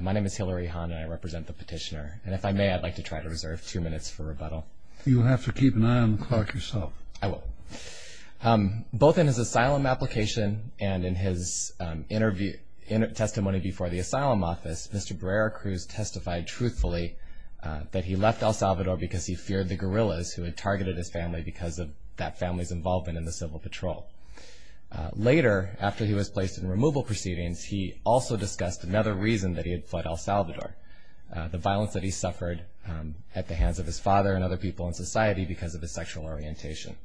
My name is Hillary Hahn and I represent the petitioner and if I may I'd like to try to reserve two minutes for rebuttal. You'll have to keep an eye on the clock yourself. I will. Both in his asylum application and in his testimony before the asylum office, Mr. Barrera Cruz testified truthfully that he left El Salvador because he feared the guerrillas who had targeted his family because of that family's involvement in the civil patrol. Later, after he was placed in removal proceedings, he also discussed another reason that he had fled El Salvador, the violence that he suffered at the hands of his father and other people in society because of his sexual orientation.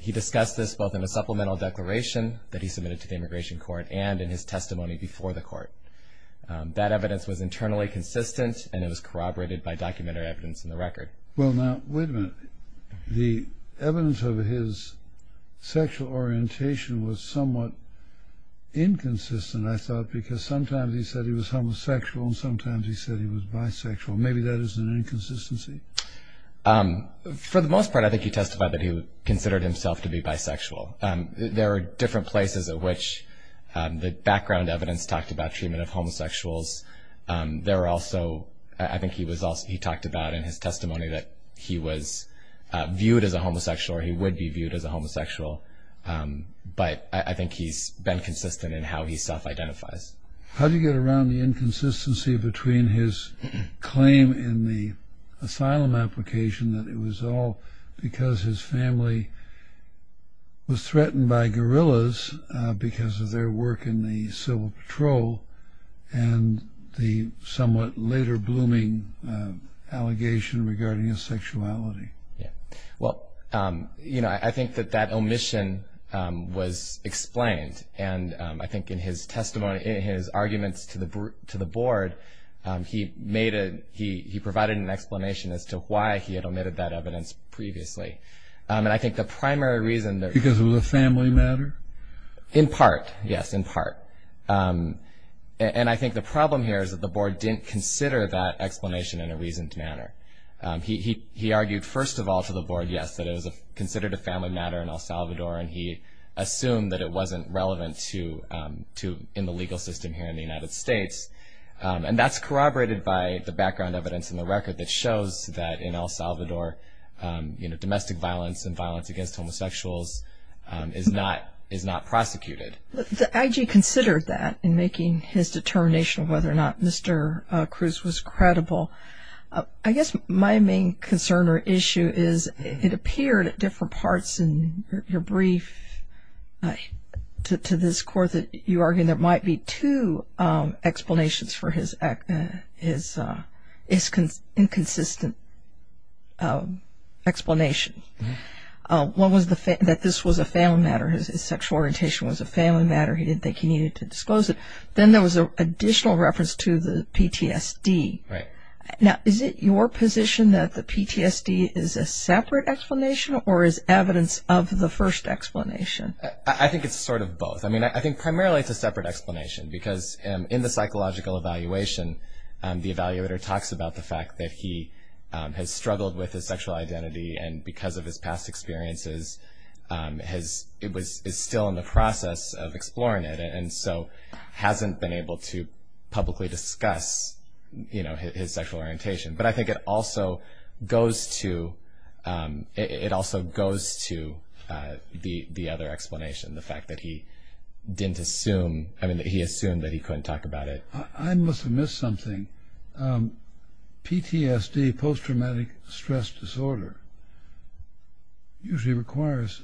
He discussed this both in a supplemental declaration that he submitted to the immigration court and in his testimony before the court. That evidence was internally consistent and it was corroborated by documentary evidence in the record. Well, now, wait a minute. The evidence of his sexual orientation was somewhat inconsistent, I thought, because sometimes he said he was homosexual and sometimes he said he was bisexual. Maybe that is an inconsistency? For the most part, I think he testified that he considered himself to be bisexual. There are different places at which the background evidence talked about treatment of homosexuals. I think he talked about in his testimony that he was viewed as a homosexual or he would be viewed as a homosexual, but I think he's been consistent in how he self-identifies. How do you get around the inconsistency between his claim in the asylum application that it was all because his family was threatened by guerrillas because of their work in the civil patrol and the somewhat later-blooming allegation regarding his sexuality? I think that that omission was explained, and I think in his arguments to the board, he provided an explanation as to why he had omitted that evidence previously. Because it was a family matter? In part, yes, in part. And I think the problem here is that the board didn't consider that explanation in a reasoned manner. He argued, first of all, to the board, yes, that it was considered a family matter in El Salvador, and he assumed that it wasn't relevant in the legal system here in the United States. And that's corroborated by the background evidence in the record that shows that in El Salvador, domestic violence and violence against homosexuals is not prosecuted. The IG considered that in making his determination of whether or not Mr. Cruz was credible. I guess my main concern or issue is it appeared at different parts in your brief to this court that you argued there might be two explanations for his inconsistent explanation. One was that this was a family matter, his sexual orientation was a family matter, he didn't think he needed to disclose it. Then there was an additional reference to the PTSD. Right. Now, is it your position that the PTSD is a separate explanation or is evidence of the first explanation? I think it's sort of both. I mean, I think primarily it's a separate explanation because in the psychological evaluation, the evaluator talks about the fact that he has struggled with his sexual identity and because of his past experiences is still in the process of exploring it and so hasn't been able to publicly discuss his sexual orientation. But I think it also goes to the other explanation, the fact that he assumed that he couldn't talk about it. I must have missed something. PTSD, post-traumatic stress disorder, usually requires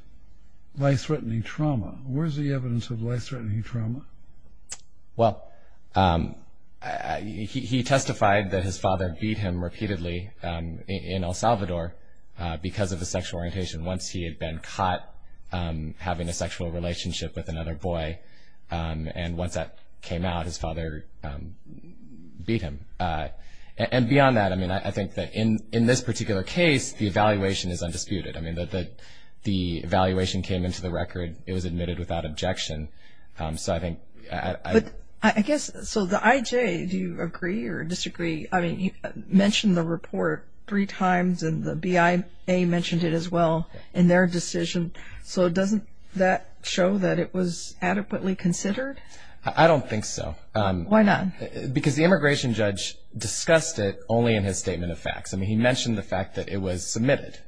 life-threatening trauma. Where is the evidence of life-threatening trauma? Well, he testified that his father beat him repeatedly in El Salvador because of his sexual orientation. Once he had been caught having a sexual relationship with another boy and once that came out, his father beat him. And beyond that, I mean, I think that in this particular case, the evaluation is undisputed. I mean, the evaluation came into the record. It was admitted without objection. But I guess, so the IJ, do you agree or disagree? I mean, you mentioned the report three times and the BIA mentioned it as well in their decision. So doesn't that show that it was adequately considered? I don't think so. Why not? Because the immigration judge discussed it only in his statement of facts. I mean, he mentioned the fact that it was submitted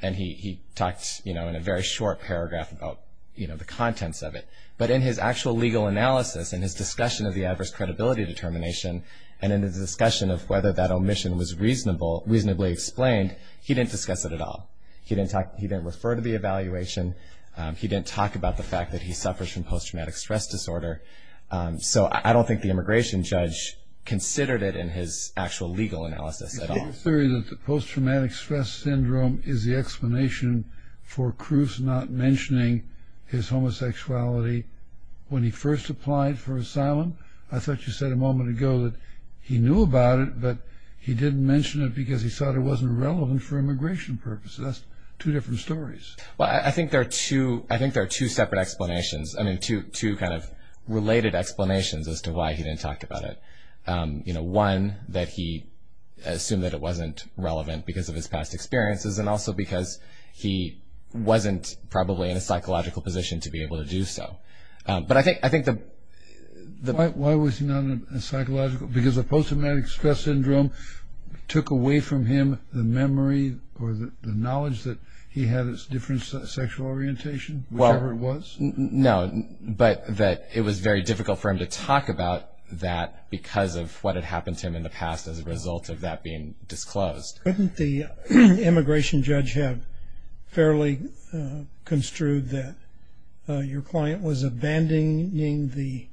and he talked, you know, in a very short paragraph about, you know, the contents of it. But in his actual legal analysis and his discussion of the adverse credibility determination and in the discussion of whether that omission was reasonably explained, he didn't discuss it at all. He didn't talk, he didn't refer to the evaluation. He didn't talk about the fact that he suffers from post-traumatic stress disorder. So I don't think the immigration judge considered it in his actual legal analysis at all. The post-traumatic stress syndrome is the explanation for Cruz not mentioning his homosexuality when he first applied for asylum. I thought you said a moment ago that he knew about it, but he didn't mention it because he thought it wasn't relevant for immigration purposes. That's two different stories. Well, I think there are two separate explanations. I mean, two kind of related explanations as to why he didn't talk about it. You know, one, that he assumed that it wasn't relevant because of his past experiences and also because he wasn't probably in a psychological position to be able to do so. But I think the... Why was he not in a psychological? Because the post-traumatic stress syndrome took away from him the memory or the knowledge that he had a different sexual orientation, whatever it was? No, but that it was very difficult for him to talk about that because of what had happened to him in the past as a result of that being disclosed. Couldn't the immigration judge have fairly construed that your client was abandoning the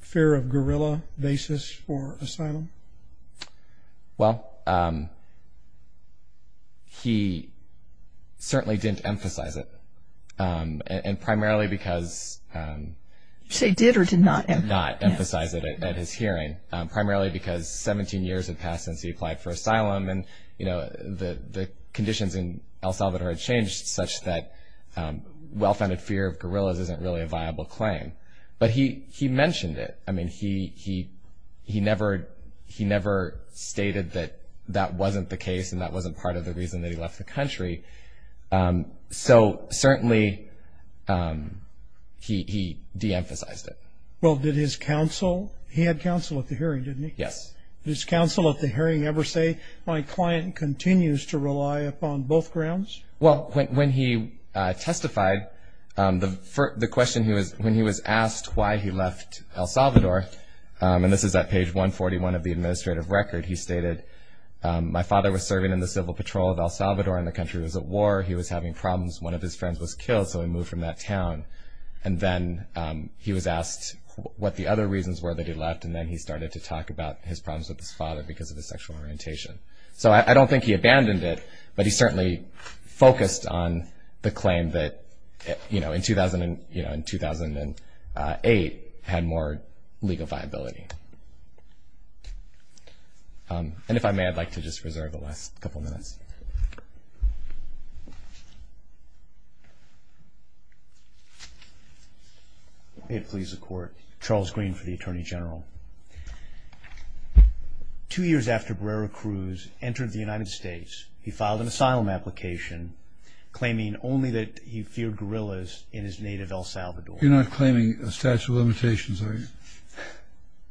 fear-of-guerrilla basis for asylum? Well, he certainly didn't emphasize it, and primarily because... Did or did not emphasize it? Did not emphasize it at his hearing, primarily because 17 years had passed since he applied for asylum, and, you know, the conditions in El Salvador had changed such that well-founded fear of guerrillas isn't really a viable claim. But he mentioned it. I mean, he never stated that that wasn't the case and that wasn't part of the reason that he left the country. So certainly he de-emphasized it. Well, did his counsel... He had counsel at the hearing, didn't he? Yes. Did his counsel at the hearing ever say, my client continues to rely upon both grounds? Well, when he testified, the question he was... When he was asked why he left El Salvador, and this is at page 141 of the administrative record, he stated, my father was serving in the civil patrol of El Salvador and the country was at war. He was having problems. One of his friends was killed, so he moved from that town. And then he was asked what the other reasons were that he left, and then he started to talk about his problems with his father because of his sexual orientation. So I don't think he abandoned it, but he certainly focused on the claim that, you know, in 2008 had more legal viability. And if I may, I'd like to just reserve the last couple minutes. May it please the Court. Charles Green for the Attorney General. Two years after Barrera Cruz entered the United States, he filed an asylum application claiming only that he feared guerrillas in his native El Salvador. You're not claiming a statute of limitations, are you?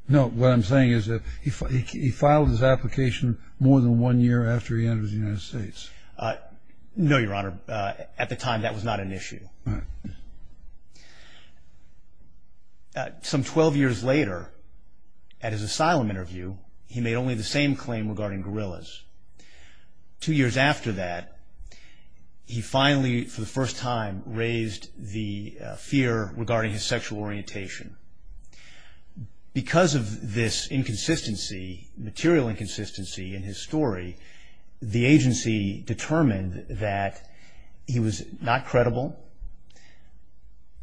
No, what I'm saying is that he filed his application more than one year after he entered the United States. No, Your Honor. At the time, that was not an issue. Some 12 years later, at his asylum interview, he made only the same claim regarding guerrillas. Two years after that, he finally, for the first time, raised the fear regarding his sexual orientation. Because of this inconsistency, material inconsistency in his story, the agency determined that he was not credible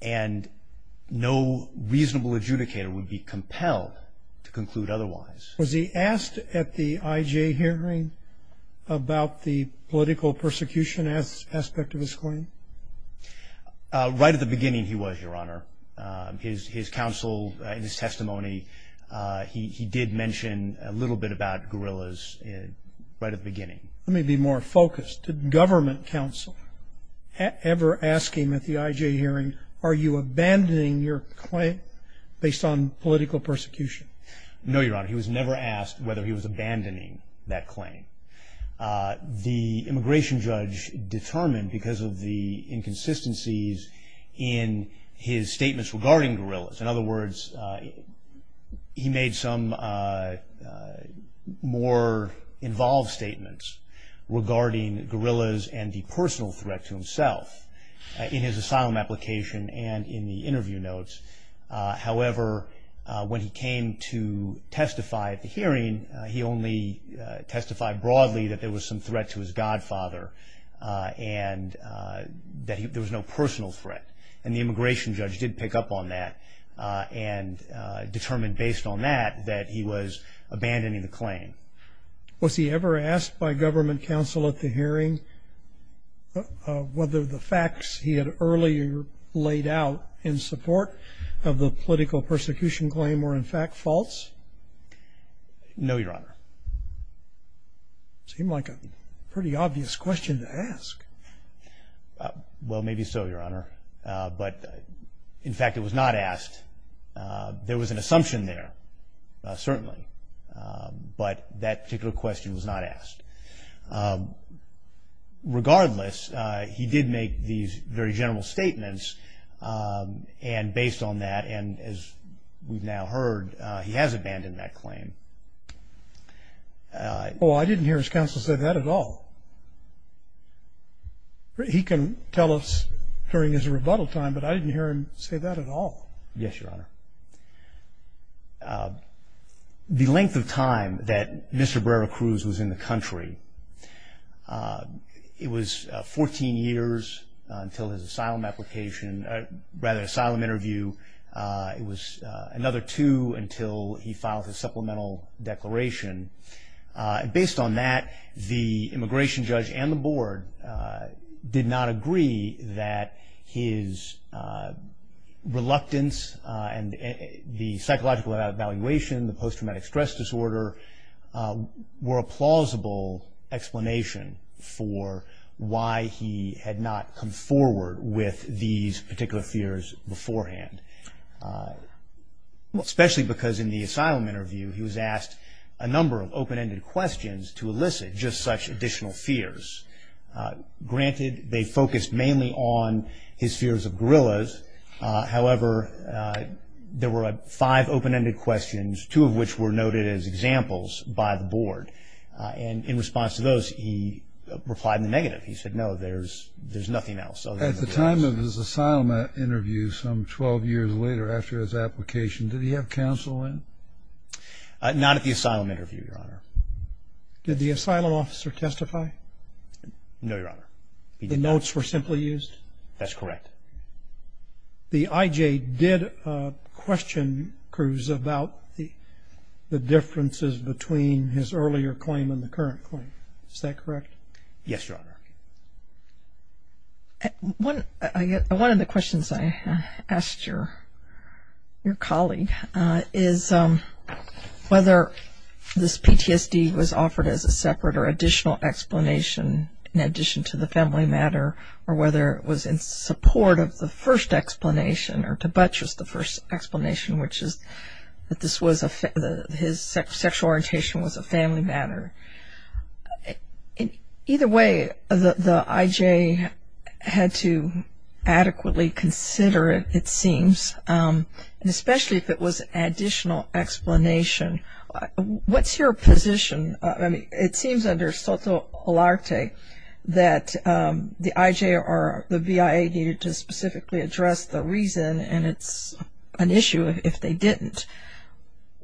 and no reasonable adjudicator would be compelled to conclude otherwise. Was he asked at the IJ hearing about the political persecution aspect of his claim? Right at the beginning, he was, Your Honor. His counsel and his testimony, he did mention a little bit about guerrillas right at the beginning. Let me be more focused. Did government counsel ever ask him at the IJ hearing, are you abandoning your claim based on political persecution? No, Your Honor. He was never asked whether he was abandoning that claim. The immigration judge determined, because of the inconsistencies in his statements regarding guerrillas, in other words, he made some more involved statements regarding guerrillas and the personal threat to himself in his asylum application and in the interview notes. However, when he came to testify at the hearing, he only testified broadly that there was some threat to his godfather and that there was no personal threat. And the immigration judge did pick up on that and determined based on that that he was abandoning the claim. Was he ever asked by government counsel at the hearing whether the facts he had earlier laid out in support of the political persecution claim were in fact false? No, Your Honor. It seemed like a pretty obvious question to ask. Well, maybe so, Your Honor. But, in fact, it was not asked. There was an assumption there, certainly, but that particular question was not asked. Regardless, he did make these very general statements, and based on that, and as we've now heard, he has abandoned that claim. Well, I didn't hear his counsel say that at all. He can tell us during his rebuttal time, but I didn't hear him say that at all. Yes, Your Honor. The length of time that Mr. Brera-Cruz was in the country, it was 14 years until his asylum application, rather, asylum interview. It was another two until he filed his supplemental declaration. Based on that, the immigration judge and the board did not agree that his reluctance and the psychological evaluation, the post-traumatic stress disorder, were a plausible explanation for why he had not come forward with these particular fears beforehand. Especially because in the asylum interview, he was asked a number of open-ended questions to elicit just such additional fears. Granted, they focused mainly on his fears of gorillas. However, there were five open-ended questions, two of which were noted as examples by the board. And in response to those, he replied in the negative. He said, no, there's nothing else. At the time of his asylum interview, some 12 years later after his application, did he have counsel in? Not at the asylum interview, Your Honor. Did the asylum officer testify? No, Your Honor. The notes were simply used? That's correct. The IJ did question Cruz about the differences between his earlier claim and the current claim. Is that correct? Yes, Your Honor. One of the questions I asked your colleague is whether this PTSD was offered as a separate or additional explanation in addition to the family matter, or whether it was in support of the first explanation or to buttress the first explanation, which is that his sexual orientation was a family matter. Either way, the IJ had to adequately consider it, it seems, and especially if it was an additional explanation. What's your position? I mean, it seems under SOTOLARTE that the IJ or the VIA needed to specifically address the reason, and it's an issue if they didn't.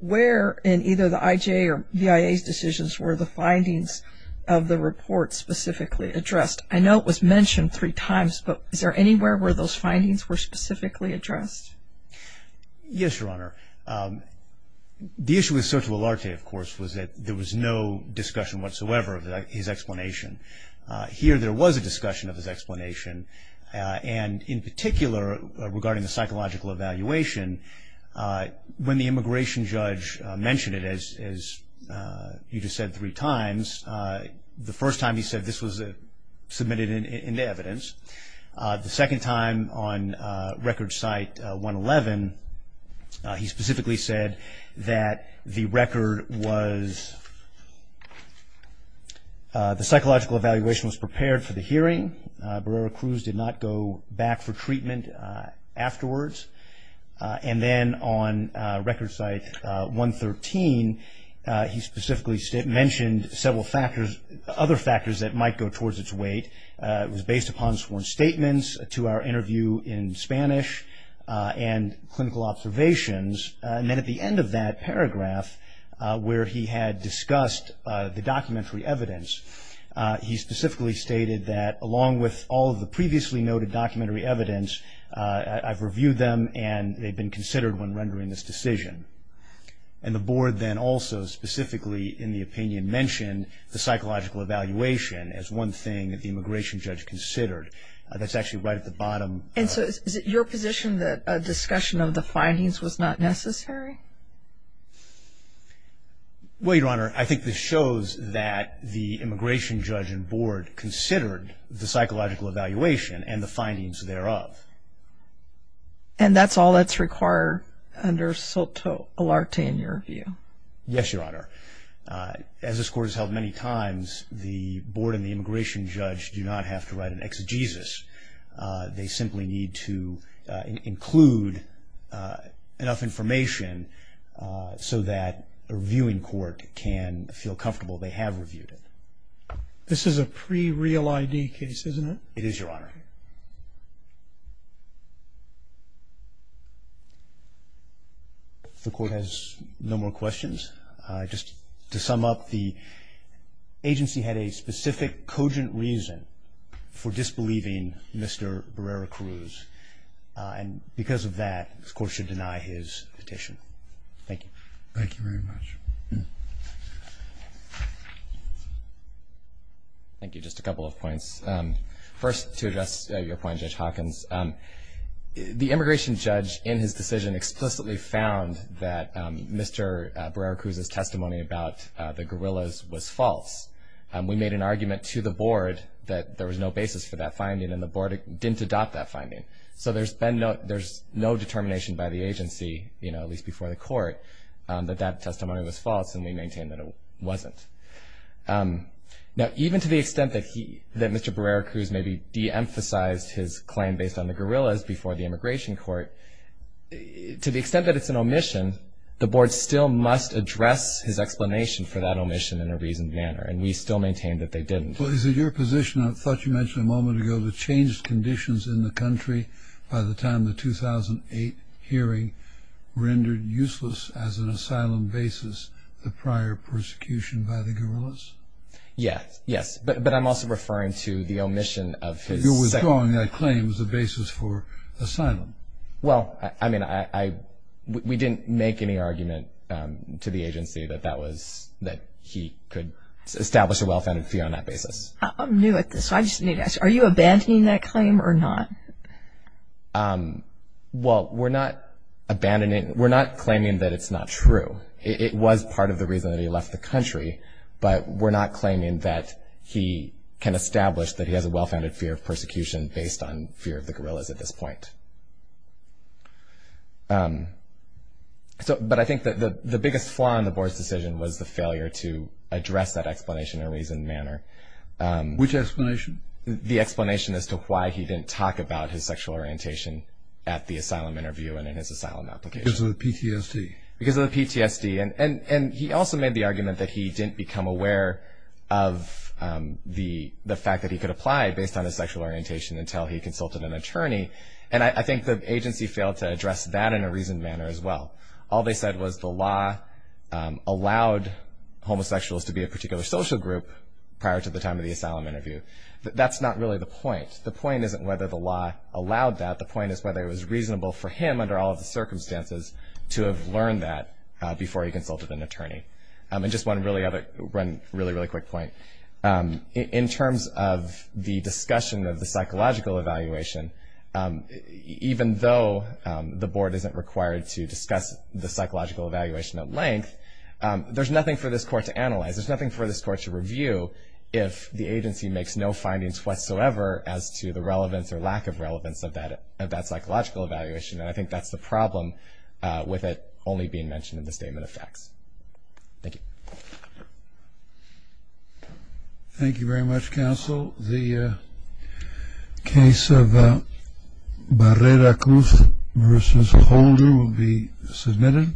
Where in either the IJ or VIA's decisions were the findings of the report specifically addressed? I know it was mentioned three times, but is there anywhere where those findings were specifically addressed? Yes, Your Honor. The issue with SOTOLARTE, of course, was that there was no discussion whatsoever of his explanation. Here there was a discussion of his explanation, and in particular regarding the psychological evaluation, when the immigration judge mentioned it, as you just said three times, the first time he said this was submitted into evidence. The second time, on Record Site 111, he specifically said that the record was the psychological evaluation was prepared for the hearing. Barrera-Cruz did not go back for treatment afterwards. And then on Record Site 113, he specifically mentioned several factors, other factors that might go towards its weight. It was based upon sworn statements to our interview in Spanish and clinical observations. And then at the end of that paragraph, where he had discussed the documentary evidence, he specifically stated that along with all of the previously noted documentary evidence, I've reviewed them and they've been considered when rendering this decision. And the board then also specifically in the opinion mentioned the psychological evaluation as one thing that the immigration judge considered. That's actually right at the bottom. And so is it your position that a discussion of the findings was not necessary? Well, Your Honor, I think this shows that the immigration judge and board considered the psychological evaluation and the findings thereof. And that's all that's required under SOTO-ALARTE in your view? Yes, Your Honor. As this Court has held many times, the board and the immigration judge do not have to write an exegesis. They simply need to include enough information so that a reviewing court can feel comfortable they have reviewed it. This is a pre-real ID case, isn't it? It is, Your Honor. If the Court has no more questions, just to sum up, the agency had a specific cogent reason for disbelieving Mr. Barrera-Cruz. And because of that, this Court should deny his petition. Thank you. Thank you very much. Thank you. Thank you. Just a couple of points. First, to address your point, Judge Hawkins, the immigration judge in his decision explicitly found that Mr. Barrera-Cruz's testimony about the guerrillas was false. We made an argument to the board that there was no basis for that finding, and the board didn't adopt that finding. So there's no determination by the agency, at least before the Court, that that testimony was false, and we maintain that it wasn't. Now, even to the extent that Mr. Barrera-Cruz maybe de-emphasized his claim based on the guerrillas before the immigration court, to the extent that it's an omission, the board still must address his explanation for that omission in a reasoned manner, and we still maintain that they didn't. Well, is it your position, I thought you mentioned a moment ago, to change conditions in the country by the time the 2008 hearing rendered useless as an asylum basis the prior persecution by the guerrillas? Yes. Yes. But I'm also referring to the omission of his second- Well, I mean, we didn't make any argument to the agency that he could establish a well-founded fear on that basis. I'm new at this, so I just need to ask, are you abandoning that claim or not? Well, we're not abandoning, we're not claiming that it's not true. It was part of the reason that he left the country, but we're not claiming that he can establish that he has a well-founded fear of persecution based on fear of the guerrillas at this point. But I think that the biggest flaw in the board's decision was the failure to address that explanation in a reasoned manner. Which explanation? The explanation as to why he didn't talk about his sexual orientation at the asylum interview and in his asylum application. Because of the PTSD. Because of the PTSD. And he also made the argument that he didn't become aware of the fact that he could apply based on his sexual orientation until he consulted an attorney. And I think the agency failed to address that in a reasoned manner as well. All they said was the law allowed homosexuals to be a particular social group prior to the time of the asylum interview. That's not really the point. The point isn't whether the law allowed that. The point is whether it was reasonable for him under all of the circumstances to have learned that before he consulted an attorney. And just one really quick point. In terms of the discussion of the psychological evaluation, even though the board isn't required to discuss the psychological evaluation at length, there's nothing for this court to analyze. There's nothing for this court to review if the agency makes no findings whatsoever as to the relevance or lack of relevance of that psychological evaluation. And I think that's the problem with it only being mentioned in the statement of facts. Thank you. Thank you very much, counsel. The case of Barrera-Cruz v. Holder will be submitted.